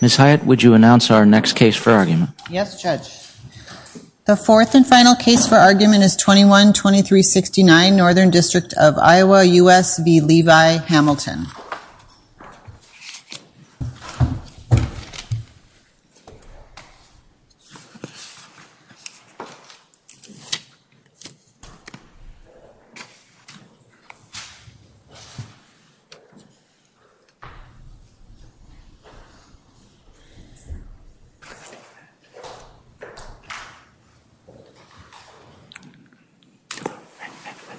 Ms. Hyatt, would you announce our next case for argument? Yes, Judge. The fourth and final case for argument is 21-2369, Northern District of Iowa, U.S. v. Levi Hamilton.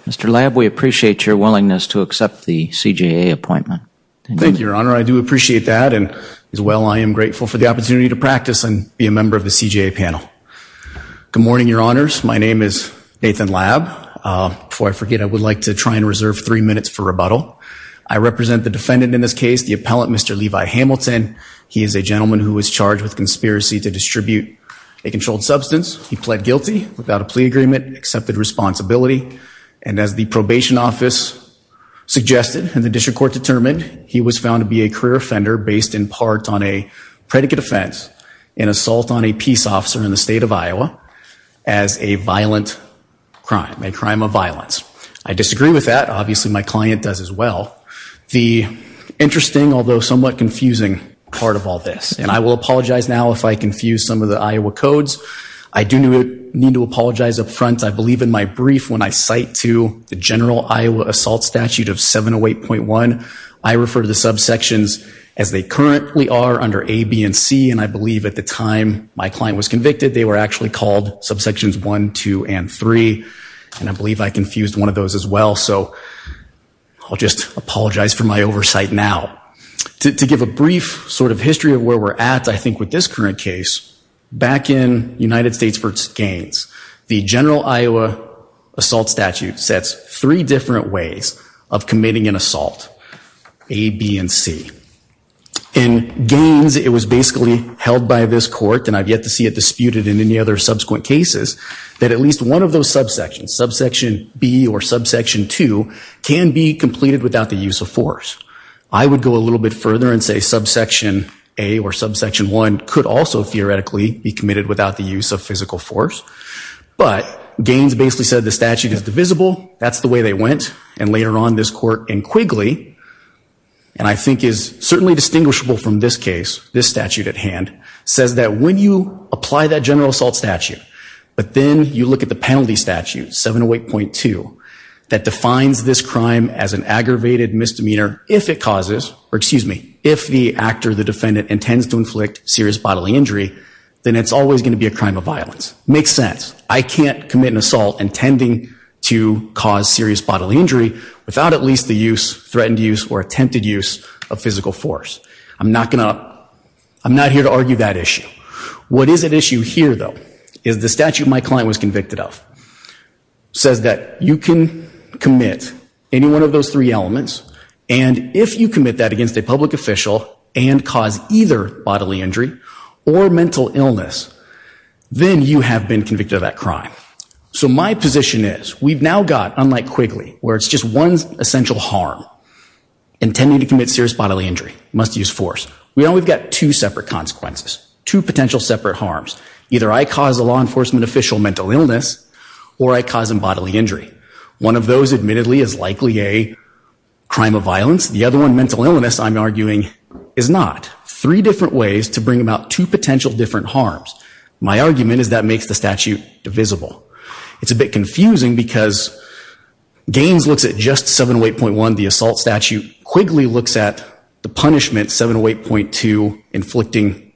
Mr. Lab, we appreciate your willingness to accept the CJA appointment. Thank you, Your Honor. I do appreciate that and, as well, I am grateful for the opportunity to practice and be a member of the CJA panel. Good morning, Your Honors. My name is Nathan Lab. Before I forget, I would like to try and reserve three minutes for rebuttal. I represent the He is a gentleman who was charged with conspiracy to distribute a controlled substance. He pled guilty without a plea agreement, accepted responsibility, and as the probation office suggested and the district court determined, he was found to be a career offender based in part on a predicate offense, an assault on a peace officer in the state of Iowa as a violent crime, a crime of violence. I disagree with that. Obviously, my client does as well. The interesting, although somewhat confusing, part of all this, and I will apologize now if I confuse some of the Iowa codes. I do need to apologize up front. I believe in my brief when I cite to the general Iowa assault statute of 708.1, I refer to the subsections as they currently are under A, B, and C, and I believe at the time my client was convicted they were actually called subsections 1, 2, and 3, and I believe I confused one of those as well, so I'll just apologize for my oversight now. To give a brief sort of history of where we're at, I think with this current case, back in United States v. Gaines, the general Iowa assault statute sets three different ways of committing an assault, A, B, and C. In Gaines, it was basically held by this court, and I've yet to see it disputed in any other subsequent cases, that at least one of those subsections, subsection B or subsection 2, can be completed without the use of force. I would go a little bit further and say subsection A or subsection 1 could also theoretically be committed without the use of physical force, but Gaines basically said the statute is divisible, that's the way they went, and later on this court in Quigley, and I think is certainly distinguishable from this case, this statute at hand, says that when you apply that general assault statute, but then you look at the penalty statute, 708.2, that defines this crime as an aggravated misdemeanor if it causes, or excuse me, if the actor, the defendant, intends to inflict serious bodily injury, then it's always going to be a crime of violence. Makes sense. I can't commit an assault intending to cause serious bodily injury without at least the use, threatened use, or attempted use of physical force. I'm not going to, I'm not here to argue that issue. What is at issue here, though, is the statute my client was convicted of says that you can commit any one of those three elements, and if you commit that against a public official and cause either bodily injury or mental illness, then you have been convicted of that crime. So my position is, we've now got, unlike Quigley, where it's just one essential harm intending to commit serious bodily injury, must use force, we've now got two separate consequences, two potential separate harms. Either I cause a law enforcement official mental illness, or I cause him bodily injury. One of those, admittedly, is likely a crime of violence. The other one, mental illness, I'm arguing, is not. Three different ways to bring about two potential different harms. My argument is that makes the statute divisible. It's looks at the punishment, 708.2, inflicting,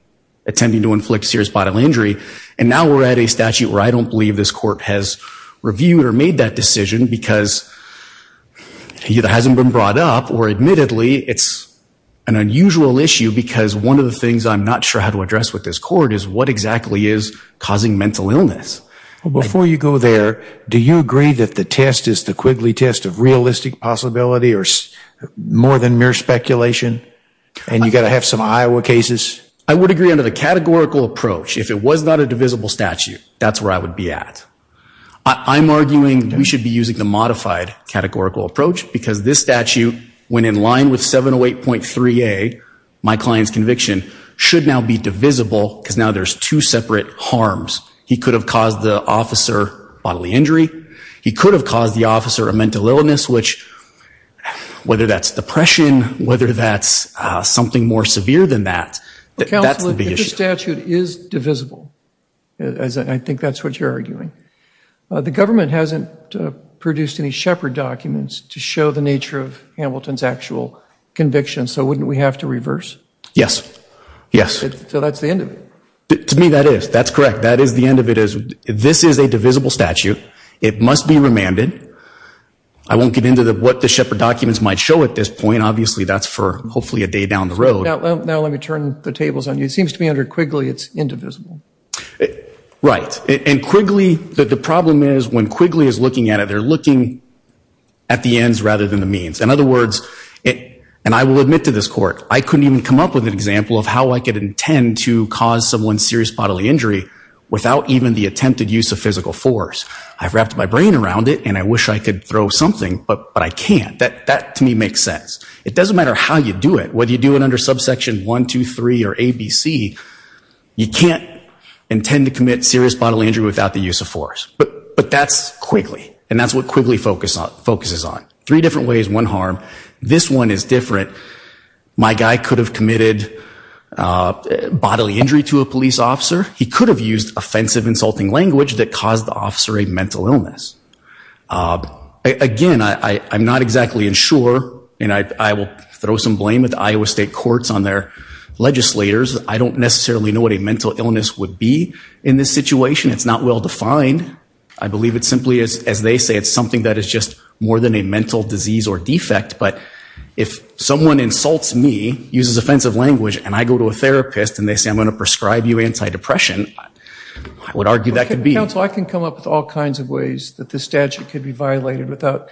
intending to inflict serious bodily injury, and now we're at a statute where I don't believe this court has reviewed or made that decision because it hasn't been brought up, or admittedly, it's an unusual issue because one of the things I'm not sure how to address with this court is what exactly is causing mental illness. Before you go there, do you agree that the test is the Quigley test of realistic possibility or more than mere speculation, and you've got to have some Iowa cases? I would agree under the categorical approach, if it was not a divisible statute, that's where I would be at. I'm arguing we should be using the modified categorical approach because this statute, when in line with 708.3a, my client's conviction, should now be divisible because now there's two separate harms. He could have caused the officer bodily injury, he could have caused the officer a mental illness, which, whether that's depression, whether that's something more severe than that, that's the big issue. Counsel, if the statute is divisible, I think that's what you're arguing, the government hasn't produced any Shepard documents to show the nature of Hamilton's actual conviction, so wouldn't we have to reverse? Yes. Yes. So that's the end of it. To me, that is. That's correct. That is the end of it. This is a divisible statute. It must be remanded. I won't get into what the Shepard documents might show at this point. Obviously, that's for hopefully a day down the road. Now let me turn the tables on you. It seems to me under Quigley, it's indivisible. Right. And Quigley, the problem is when Quigley is looking at it, they're looking at the ends rather than the means. In other words, and I will admit to this court, I couldn't even intend to cause someone serious bodily injury without even the attempted use of physical force. I've wrapped my brain around it and I wish I could throw something, but I can't. That to me makes sense. It doesn't matter how you do it, whether you do it under subsection 1, 2, 3, or ABC, you can't intend to commit serious bodily injury without the use of force. But that's Quigley, and that's what Quigley focuses on. Three different ways, one harm. This one is different. My guy could have committed bodily injury to a police officer. He could have used offensive, insulting language that caused the officer a mental illness. Again, I'm not exactly sure, and I will throw some blame at the Iowa State courts on their legislators. I don't necessarily know what a mental illness would be in this situation. It's not well defined. I believe it simply is, as they say, it's something that is just more than a mental disease or defect, but if someone insults me, uses offensive language, and I go to a therapist, and they say, I'm going to prescribe you anti-depression, I would argue that could be. Counsel, I can come up with all kinds of ways that this statute could be violated without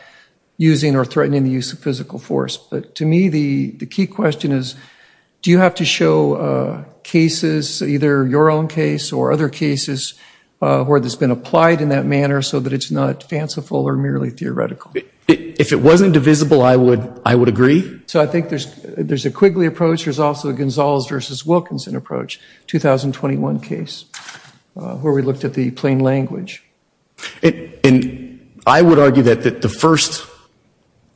using or threatening the use of physical force. But to me, the key question is, do you have to show cases, either your own case or other cases where there's been applied in that manner so that it's not fanciful or merely theoretical? If it wasn't divisible, I would agree. So I think there's a Quigley approach. There's also a Gonzalez versus Wilkinson approach, 2021 case, where we looked at the plain language. And I would argue that the first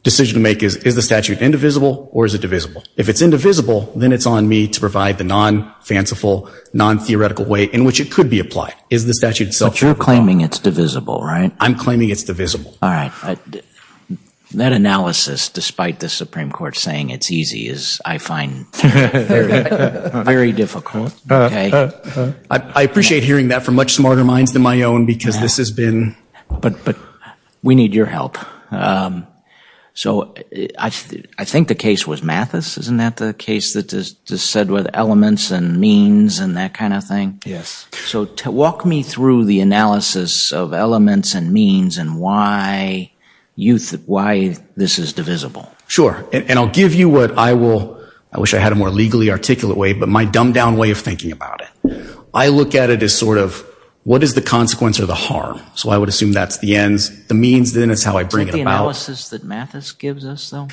decision to make is, is the statute indivisible or is it divisible? If it's indivisible, then it's on me to provide the non-fanciful, non-theoretical way in which it could be applied. Is the statute self-definable? But you're claiming it's divisible, right? I'm claiming it's divisible. All right. That analysis, despite the Supreme Court saying it's easy, is, I find, very difficult. I appreciate hearing that from much smarter minds than my own because this has been... But we need your help. So I think the case was Mathis, isn't that the case that just said with elements and means and that kind of thing? Yes. So walk me through the analysis of elements and means and why this is divisible. Sure. And I'll give you what I will, I wish I had a more legally articulate way, but my dumbed down way of thinking about it. I look at it as sort of, what is the consequence or the harm? So I would assume that's the ends, the means, then it's how I bring it about. Is that the analysis that Mathis gives us though?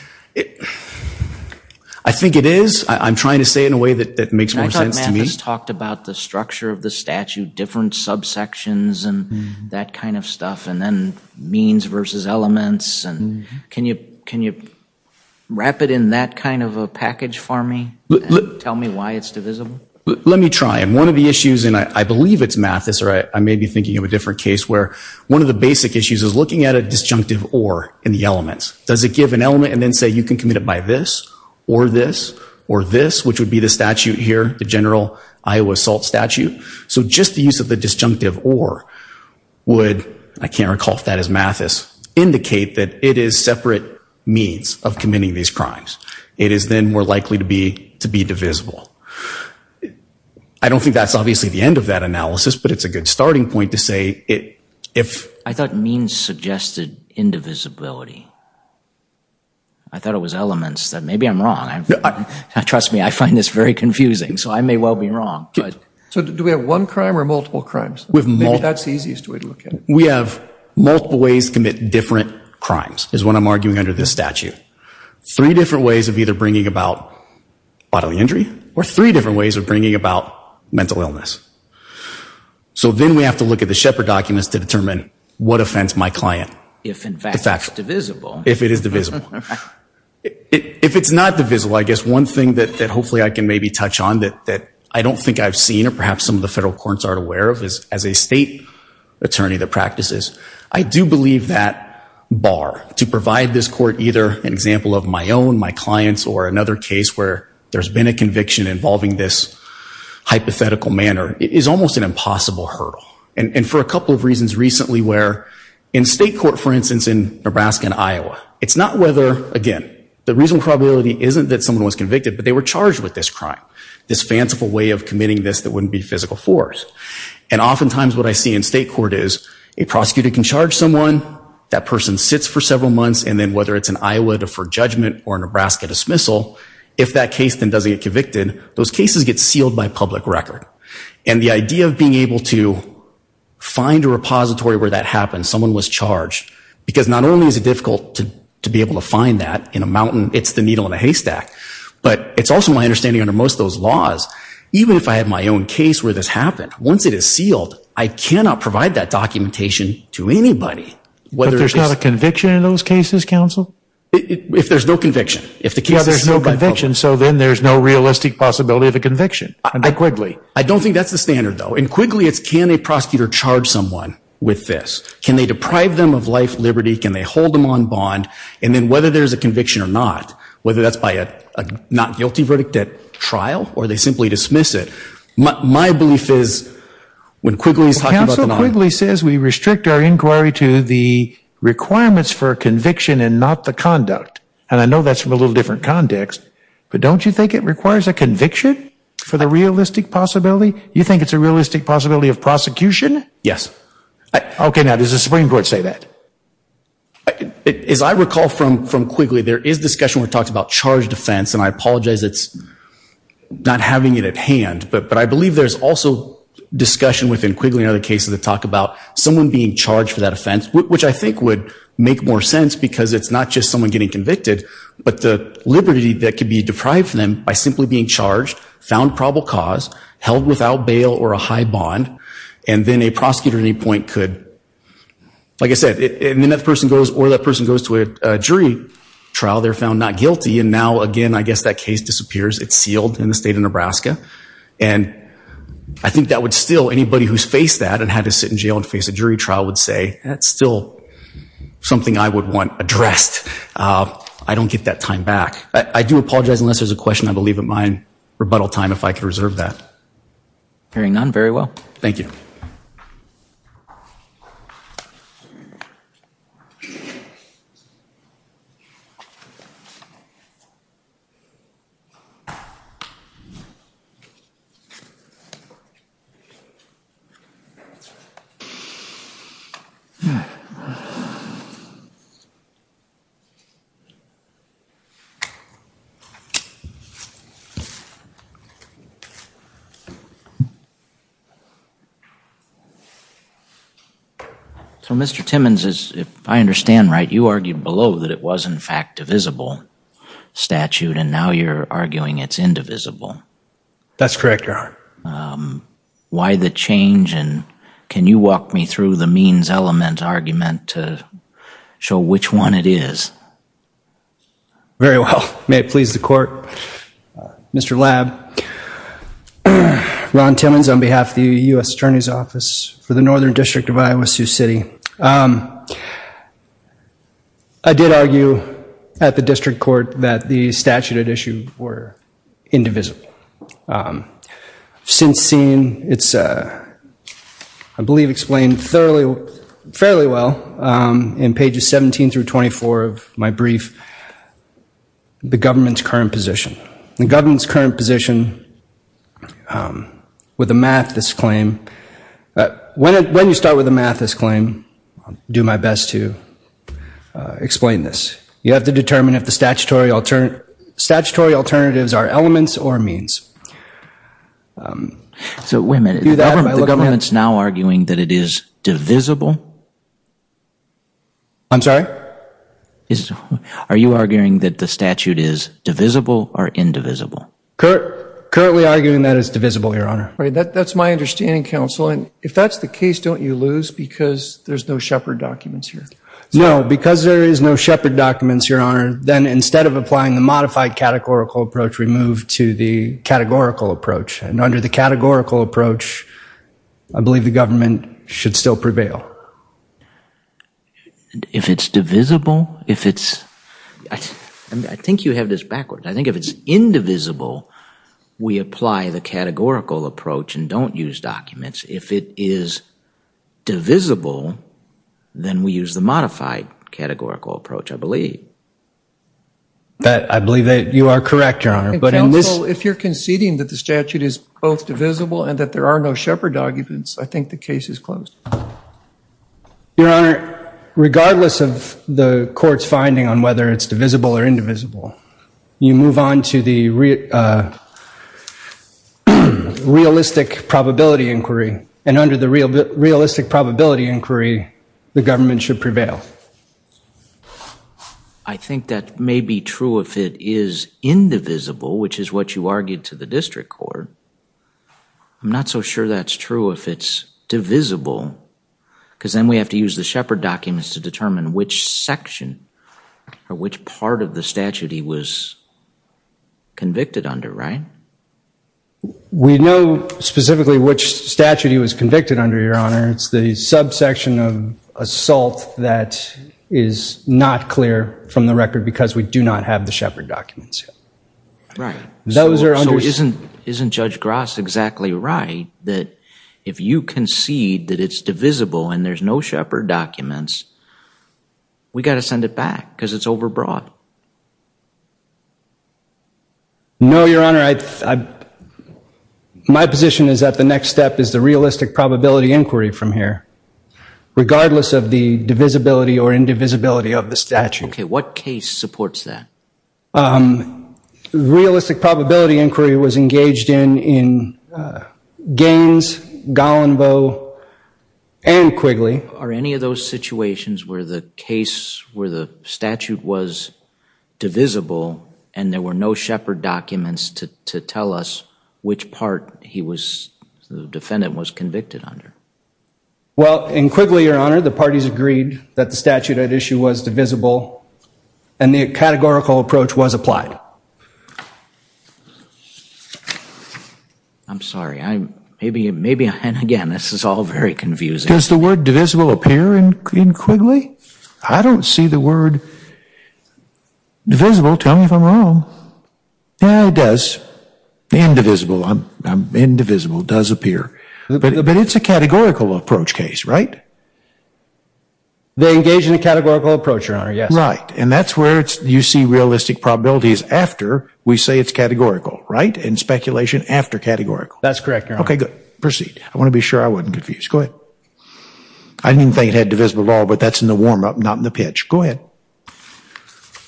I think it is. I'm trying to say it in a way that makes more sense to me. Mathis talked about the structure of the statute, different subsections and that kind of stuff, and then means versus elements. And can you wrap it in that kind of a package for me? Tell me why it's divisible. Let me try. And one of the issues, and I believe it's Mathis or I may be thinking of a different case where one of the basic issues is looking at a disjunctive or in the elements. Does it give an element and then say, you can commit it by this or this or this, which would be the statute here, the general Iowa assault statute. So just the use of the disjunctive or would, I can't recall if that is Mathis, indicate that it is separate means of committing these crimes. It is then more likely to be divisible. I don't think that's obviously the end of that analysis, but it's a good starting point to say. I thought means suggested indivisibility. I thought it was elements that maybe I'm wrong. Trust me, I find this very confusing, so I may well be wrong. So do we have one crime or multiple crimes? With multiple. That's the easiest way to look at it. We have multiple ways to commit different crimes is what I'm arguing under this statute. Three different ways of either bringing about bodily injury or three different ways of bringing about mental illness. So then we have to look at the Shepard documents to determine what offends my client. If in fact it's divisible. If it is divisible. If it's not divisible, I guess one thing that hopefully I can maybe touch on that I don't think I've seen or perhaps some of the federal courts aren't aware of is as a state attorney that practices. I do believe that bar to provide this court either an example of my own, my clients or another case where there's been a conviction involving this hypothetical manner is almost an impossible hurdle. And for a couple of reasons recently where in state court, for instance, in Nebraska and Iowa, it's not whether, again, the reasonable probability isn't that someone was convicted, but they were charged with this crime. This fanciful way of committing this that wouldn't be physical force. And oftentimes what I see in state court is a prosecutor can charge someone, that person sits for several months and then whether it's in Iowa for judgment or Nebraska dismissal, if that case then doesn't get convicted, those cases get sealed by public record. And the idea of being able to find a repository where that happened, someone was charged. Because not only is it difficult to be able to find that in a mountain, it's the needle in a haystack. But it's also my understanding under most of those laws, even if I have my own case where this happened, once it is sealed, I cannot provide that documentation to anybody. But there's not a conviction in those cases, counsel? If there's no conviction. If the case is sealed by public record. So then there's no realistic possibility of a conviction? I don't think that's the standard though. And quickly it's can a prosecutor charge someone with this? Can they deprive them of life, liberty? Can they hold them on bond? And then whether there's a conviction or not, whether that's by a not guilty verdict at trial, or they simply dismiss it. My belief is when Quigley's talking about the... Counsel Quigley says we restrict our inquiry to the requirements for conviction and not the conduct. And I know that's from a little different context. But don't you think it requires a conviction for the realistic possibility? You think it's a realistic possibility of prosecution? Yes. Okay now, does the Supreme Court say that? As I recall from Quigley, there is discussion where it talks about charged offense. And I apologize it's not having it at hand. But I believe there's also discussion within Quigley and other cases that talk about someone being charged for that offense. Which I think would make more sense because it's not just someone getting convicted. But the liberty that could be deprived from them by simply being charged, found probable cause, held without bail or a high bond. And then a prosecutor at any point could... Like I said, and then that person goes or that person goes to a jury trial, they're found not guilty. And now again, I guess that case disappears. It's sealed in the state of Nebraska. And I think that would still, anybody who's faced that and had to sit in jail and face a jury trial would say, that's still something I would want addressed. I don't get that time back. I do apologize unless there's a question. I believe in my rebuttal time if I could reserve that. Hearing none, very well. Thank you. So Mr. Timmons, if I understand right, you argued below that it was in fact divisible statute. And now you're arguing it's indivisible. That's correct, Your Honor. Why the change? And can you walk me through the means element argument to show which one it is? Very well. May it please the court. Ron Timmons on behalf of the U.S. Supreme Court. U.S. Attorney's Office for the Northern District of Iowa, Sioux City. I did argue at the district court that the statute at issue were indivisible. I've since seen, it's I believe explained fairly well in pages 17 through 24 of my brief, the government's current position. The government's current position, with the math, this claim. When you start with the math, this claim, do my best to explain this. You have to determine if the statutory alternatives are elements or means. So wait a minute, the government's now arguing that it is divisible? I'm sorry? Are you arguing that the statute is divisible or indivisible? Currently arguing that it's divisible, Your Honor. Right, that's my understanding, counsel. And if that's the case, don't you lose because there's no Shepard documents here? No, because there is no Shepard documents, Your Honor, then instead of applying the modified categorical approach, we move to the categorical approach. And under the categorical approach, I believe the government should still prevail. If it's divisible, if it's, I think you have this backwards. I think if it's indivisible, we apply the categorical approach and don't use documents. If it is divisible, then we use the modified categorical approach, I believe. I believe that you are correct, Your Honor. But in this- Counsel, if you're conceding that the statute is both divisible and that there are no Shepard documents, I think the case is closed. Your Honor, regardless of the court's finding on whether it's divisible or indivisible, you move on to the realistic probability inquiry. And under the realistic probability inquiry, the government should prevail. I think that may be true if it is indivisible, which is what you argued to the district court. I'm not so sure that's true if it's divisible, because then we have to use the Shepard documents to determine which section or which part of the statute he was convicted under, right? We know specifically which statute he was convicted under, Your Honor. It's the subsection of assault that is not clear from the record because we do not have the Shepard documents yet. Right. Those are under- So isn't Judge Grass exactly right that if you concede that it's divisible and there's no Shepard documents, we've got to send it back because it's overbroad? No, Your Honor. My position is that the next step is the realistic probability inquiry from here, regardless of the divisibility or indivisibility of the statute. OK. What case supports that? Realistic probability inquiry was engaged in Gaines, Gollenboe, and Quigley. Are any of those situations where the case, where the statute was divisible, and there were no Shepard documents to tell us which part the defendant was convicted under? Well, in Quigley, Your Honor, the parties agreed that the statute at issue was divisible and the categorical approach was applied. I'm sorry. Maybe, and again, this is all very confusing. Does the word divisible appear in Quigley? I don't see the word divisible. Tell me if I'm wrong. Yeah, it does. Indivisible. Indivisible does appear. But it's a categorical approach case, right? They engage in a categorical approach, Your Honor, yes. Right. And that's where you see realistic probabilities after we say it's categorical, right? And speculation after categorical. That's correct, Your Honor. OK, good. Proceed. I want to be sure I wasn't confused. Go ahead. I didn't think it had divisible law, but that's in the warm up, not in the pitch. Go ahead.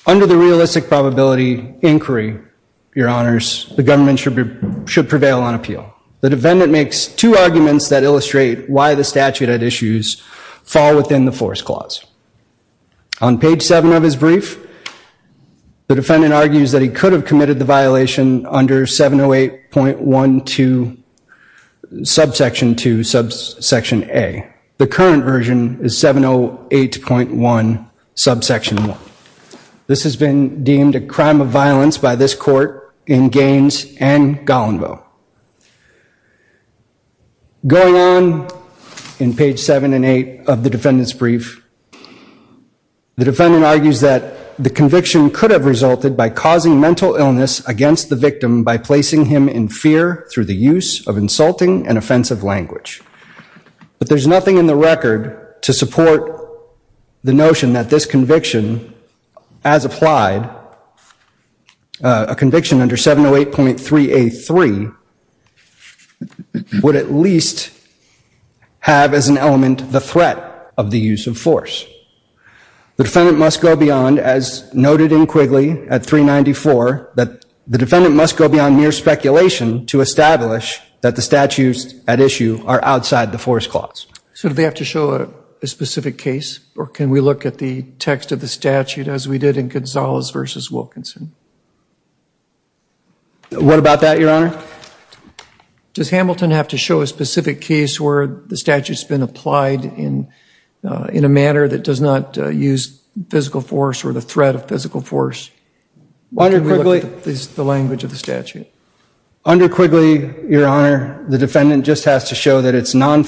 Under the realistic probability inquiry, Your Honors, the government should prevail on appeal. The defendant makes two arguments that illustrate why the statute at issues fall within the force clause. On page 7 of his brief, the defendant argues that he could have committed the violation under 708.12, subsection 2, subsection A. The current version is 708.1, subsection 1. This has been deemed a crime of violence by this court in Gaines and Gollinville. Going on in page 7 and 8 of the defendant's brief, the defendant argues that the conviction could have resulted by causing mental illness against the victim by placing him in fear through the use of insulting and offensive language. But there's nothing in the record to support the notion that this conviction, as applied, a conviction under 708.3A3, would at least have as an element the threat of the use of force. The defendant must go beyond, as noted in Quigley at 394, that the defendant must go beyond mere speculation to establish that the statutes at issue are outside the force clause. So do they have to show a specific case, or can we look at the text of the statute as we did in Gonzalez versus Wilkinson? What about that, Your Honor? Does Hamilton have to show a specific case where the statute's been applied in a manner that does not use physical force or the threat of physical force? Why don't we look at the language of the statute? Under Quigley, Your Honor, the defendant just has to show that it's applied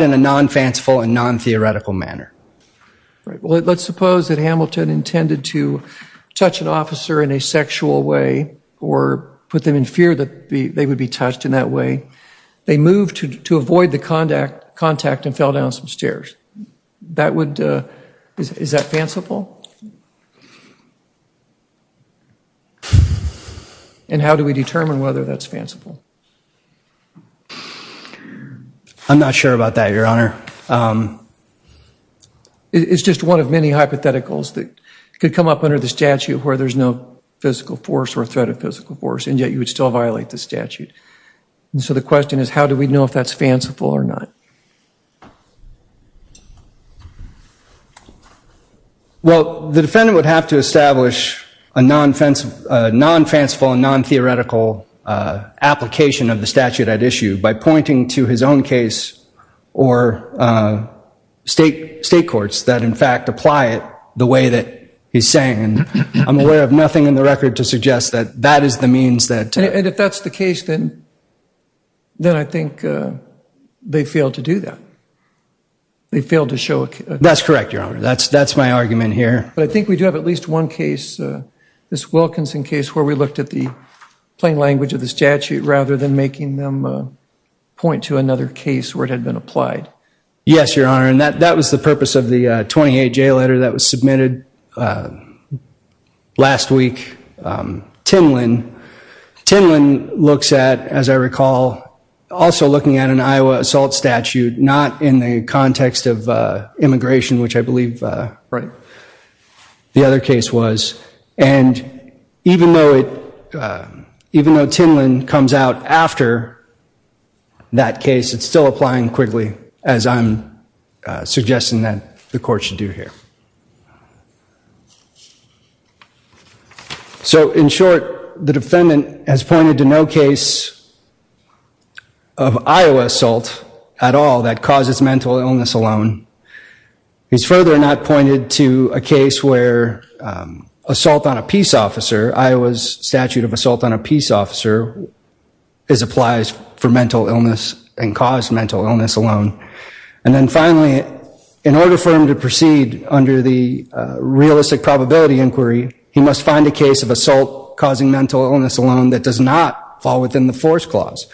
in a non-fanciful and non-theoretical manner. Right, well, let's suppose that Hamilton intended to touch an officer in a sexual way or put them in fear that they would be touched in that way. They moved to avoid the contact and fell down some stairs. That would, is that fanciful? And how do we determine whether that's fanciful? I'm not sure about that, Your Honor. It's just one of many hypotheticals that could come up under the statute where there's no physical force or threat of physical force, and yet you would still violate the statute. So the question is, how do we know if that's fanciful or not? Well, the defendant would have to establish a non-fanciful and non-theoretical application of the statute at issue by pointing to his own case or state courts that, in fact, apply it the way that he's saying. And I'm aware of nothing in the record to suggest that that is the means that to. And if that's the case, then I think they failed to do that. They failed to show a case. That's correct, Your Honor. That's my argument here. But I think we do have at least one case, this Wilkinson case, where we looked at the plain language of the statute rather than making them point to another case where it had been applied. Yes, Your Honor. And that was the purpose of the 28-J letter that was submitted last week. Tinlin looks at, as I recall, also looking at an Iowa assault statute, not in the context of immigration, which I believe the other case was. And even though Tinlin comes out after that case, it's still applying quickly, as I'm suggesting that the court should do here. So in short, the defendant has pointed to no case of Iowa assault at all that causes mental illness alone. He's further not pointed to a case where assault on a peace officer, Iowa's statute of assault on a peace officer, applies for mental illness and caused mental illness alone. And then finally, in order for him to proceed under the realistic probability inquiry, he must find a case of assault causing mental illness alone that does not fall within the force clause.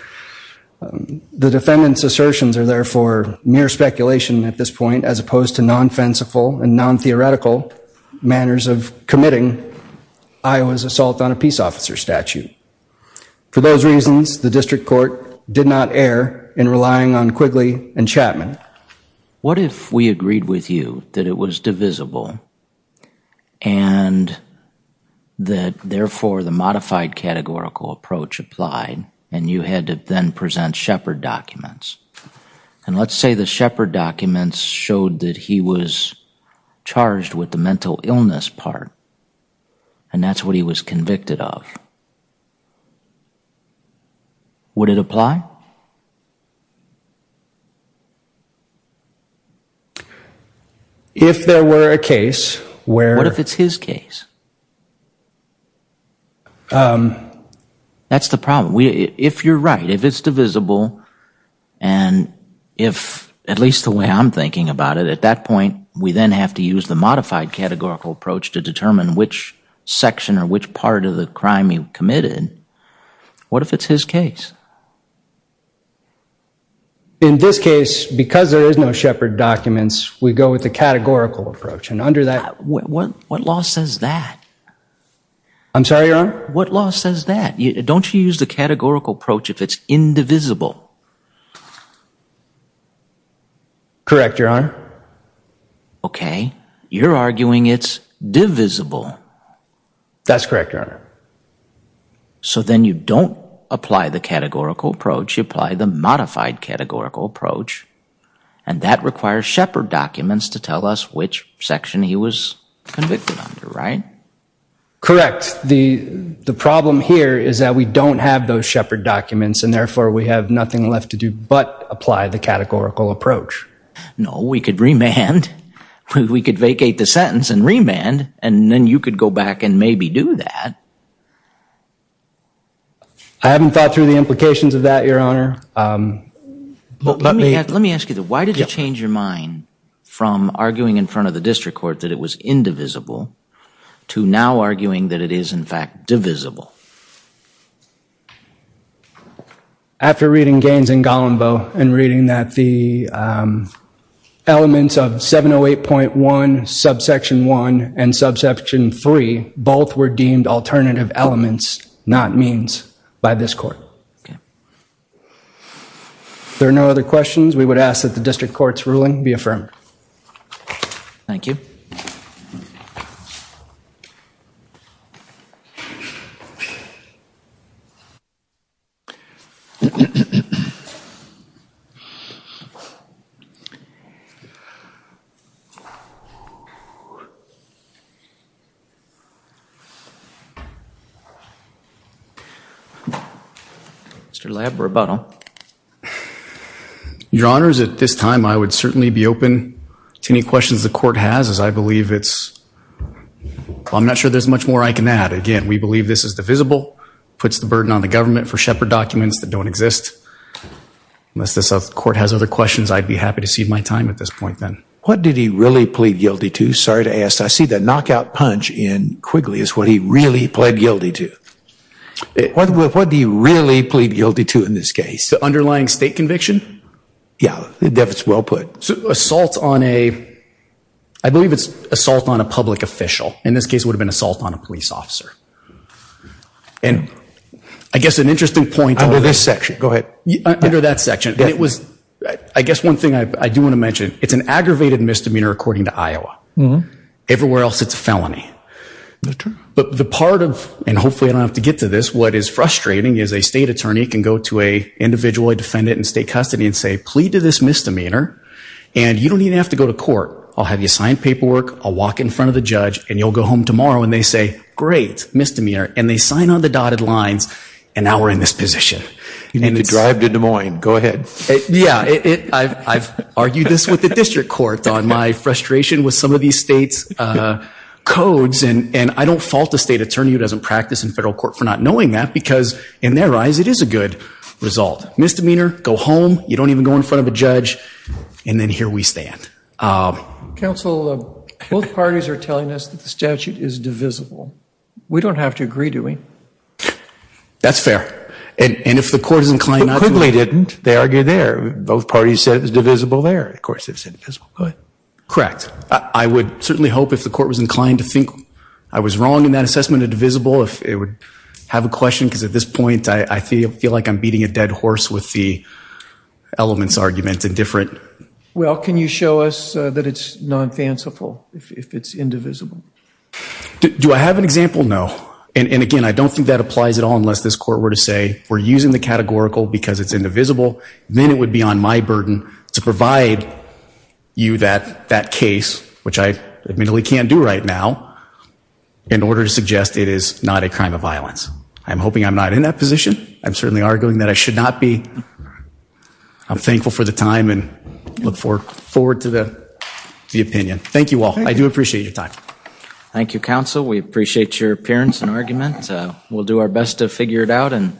The defendant's assertions are, therefore, mere speculation at this point, as opposed to non-fenciful and non-theoretical manners of committing Iowa's assault on a peace officer statute. For those reasons, the district court did not err in relying on Quigley and Chapman. What if we agreed with you that it was divisible and that, therefore, the modified categorical approach applied and you had to then present Shepard documents? And let's say the Shepard documents showed that he was charged with the mental illness part and that's what he was convicted of. Would it apply? If there were a case where- What if it's his case? That's the problem. If you're right, if it's divisible and if, at least the way I'm thinking about it, at that point, we then have to use the modified categorical approach to determine which section or which part of the crime he committed, what if it's his case? In this case, because there is no Shepard documents, we go with the categorical approach. And under that- What law says that? I'm sorry, Your Honor? What law says that? Don't you use the categorical approach if it's indivisible? Correct, Your Honor. Okay, you're arguing it's divisible. That's correct, Your Honor. So then you don't apply the categorical approach, you apply the modified categorical approach and that requires Shepard documents to tell us which section he was convicted under, right? Correct, the problem here is that we don't have those Shepard documents and therefore we have nothing left to do but apply the categorical approach. No, we could remand. We could vacate the sentence and remand and then you could go back and maybe do that. I haven't thought through the implications of that, Your Honor. Let me ask you, why did you change your mind from arguing in front of the district court that it was indivisible to now arguing that it is in fact divisible? After reading Gaines and Golombo and reading that the elements of 708.1, subsection 1 and subsection 3 both were deemed alternative elements, not means by this court. If there are no other questions, we would ask that the district court's ruling be affirmed. Thank you, Your Honor. Thank you. Mr. Labrabuttle. Well, Your Honor, at this time, I would certainly be open to any questions the court has as I believe it's, I'm not sure there's much more I can add. Again, we believe this is divisible, puts the burden on the government for Shepard documents that don't exist. Unless this court has other questions, I'd be happy to cede my time at this point then. What did he really plead guilty to? Sorry to ask. I see the knockout punch in Quigley is what he really pled guilty to. What did he really plead guilty to in this case? The underlying state conviction? Yeah, that's well put. So assault on a, I believe it's assault on a public official. In this case, it would have been assault on a police officer. And I guess an interesting point- Under this section, go ahead. Under that section. And it was, I guess one thing I do want to mention, it's an aggravated misdemeanor according to Iowa. Everywhere else, it's a felony. That's true. But the part of, and hopefully I don't have to get to this, what is frustrating is a state attorney can go to a individual defendant in state custody and say, plead to this misdemeanor and you don't even have to go to court. I'll have you sign paperwork, I'll walk in front of the judge and you'll go home tomorrow and they say, great, misdemeanor. And they sign on the dotted lines and now we're in this position. You need to drive to Des Moines. Go ahead. Yeah, I've argued this with the district court on my frustration with some of these states' codes and I don't fault a state attorney who doesn't practice in federal court for not knowing that because in their eyes, it is a good result. Misdemeanor, go home, you don't even go in front of a judge and then here we stand. Counsel, both parties are telling us that the statute is divisible. We don't have to agree, do we? That's fair. And if the court is inclined not to. But Quigley didn't. They argued there. Both parties said it was divisible there. Of course, it's divisible. Go ahead. Correct. I would certainly hope if the court was inclined to think I was wrong in that assessment of divisible, if it would have a question because at this point, I feel like I'm beating a dead horse with the elements arguments and different. Well, can you show us that it's non-fanciful if it's indivisible? Do I have an example? No. And again, I don't think that applies at all unless this court were to say, we're using the categorical because it's indivisible. Then it would be on my burden to provide you that case, which I admittedly can't do right now, in order to suggest it is not a crime of violence. I'm hoping I'm not in that position. I'm certainly arguing that I should not be. I'm thankful for the time and look forward to the opinion. Thank you all. I do appreciate your time. Thank you, counsel. We appreciate your appearance and argument. We'll do our best to figure it out and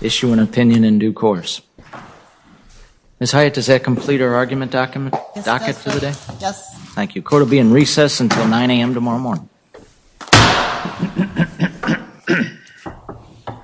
issue an opinion in due course. Ms. Hyatt, does that complete our argument docket for the day? Yes. Thank you. Court will be in recess until 9 a.m. tomorrow morning.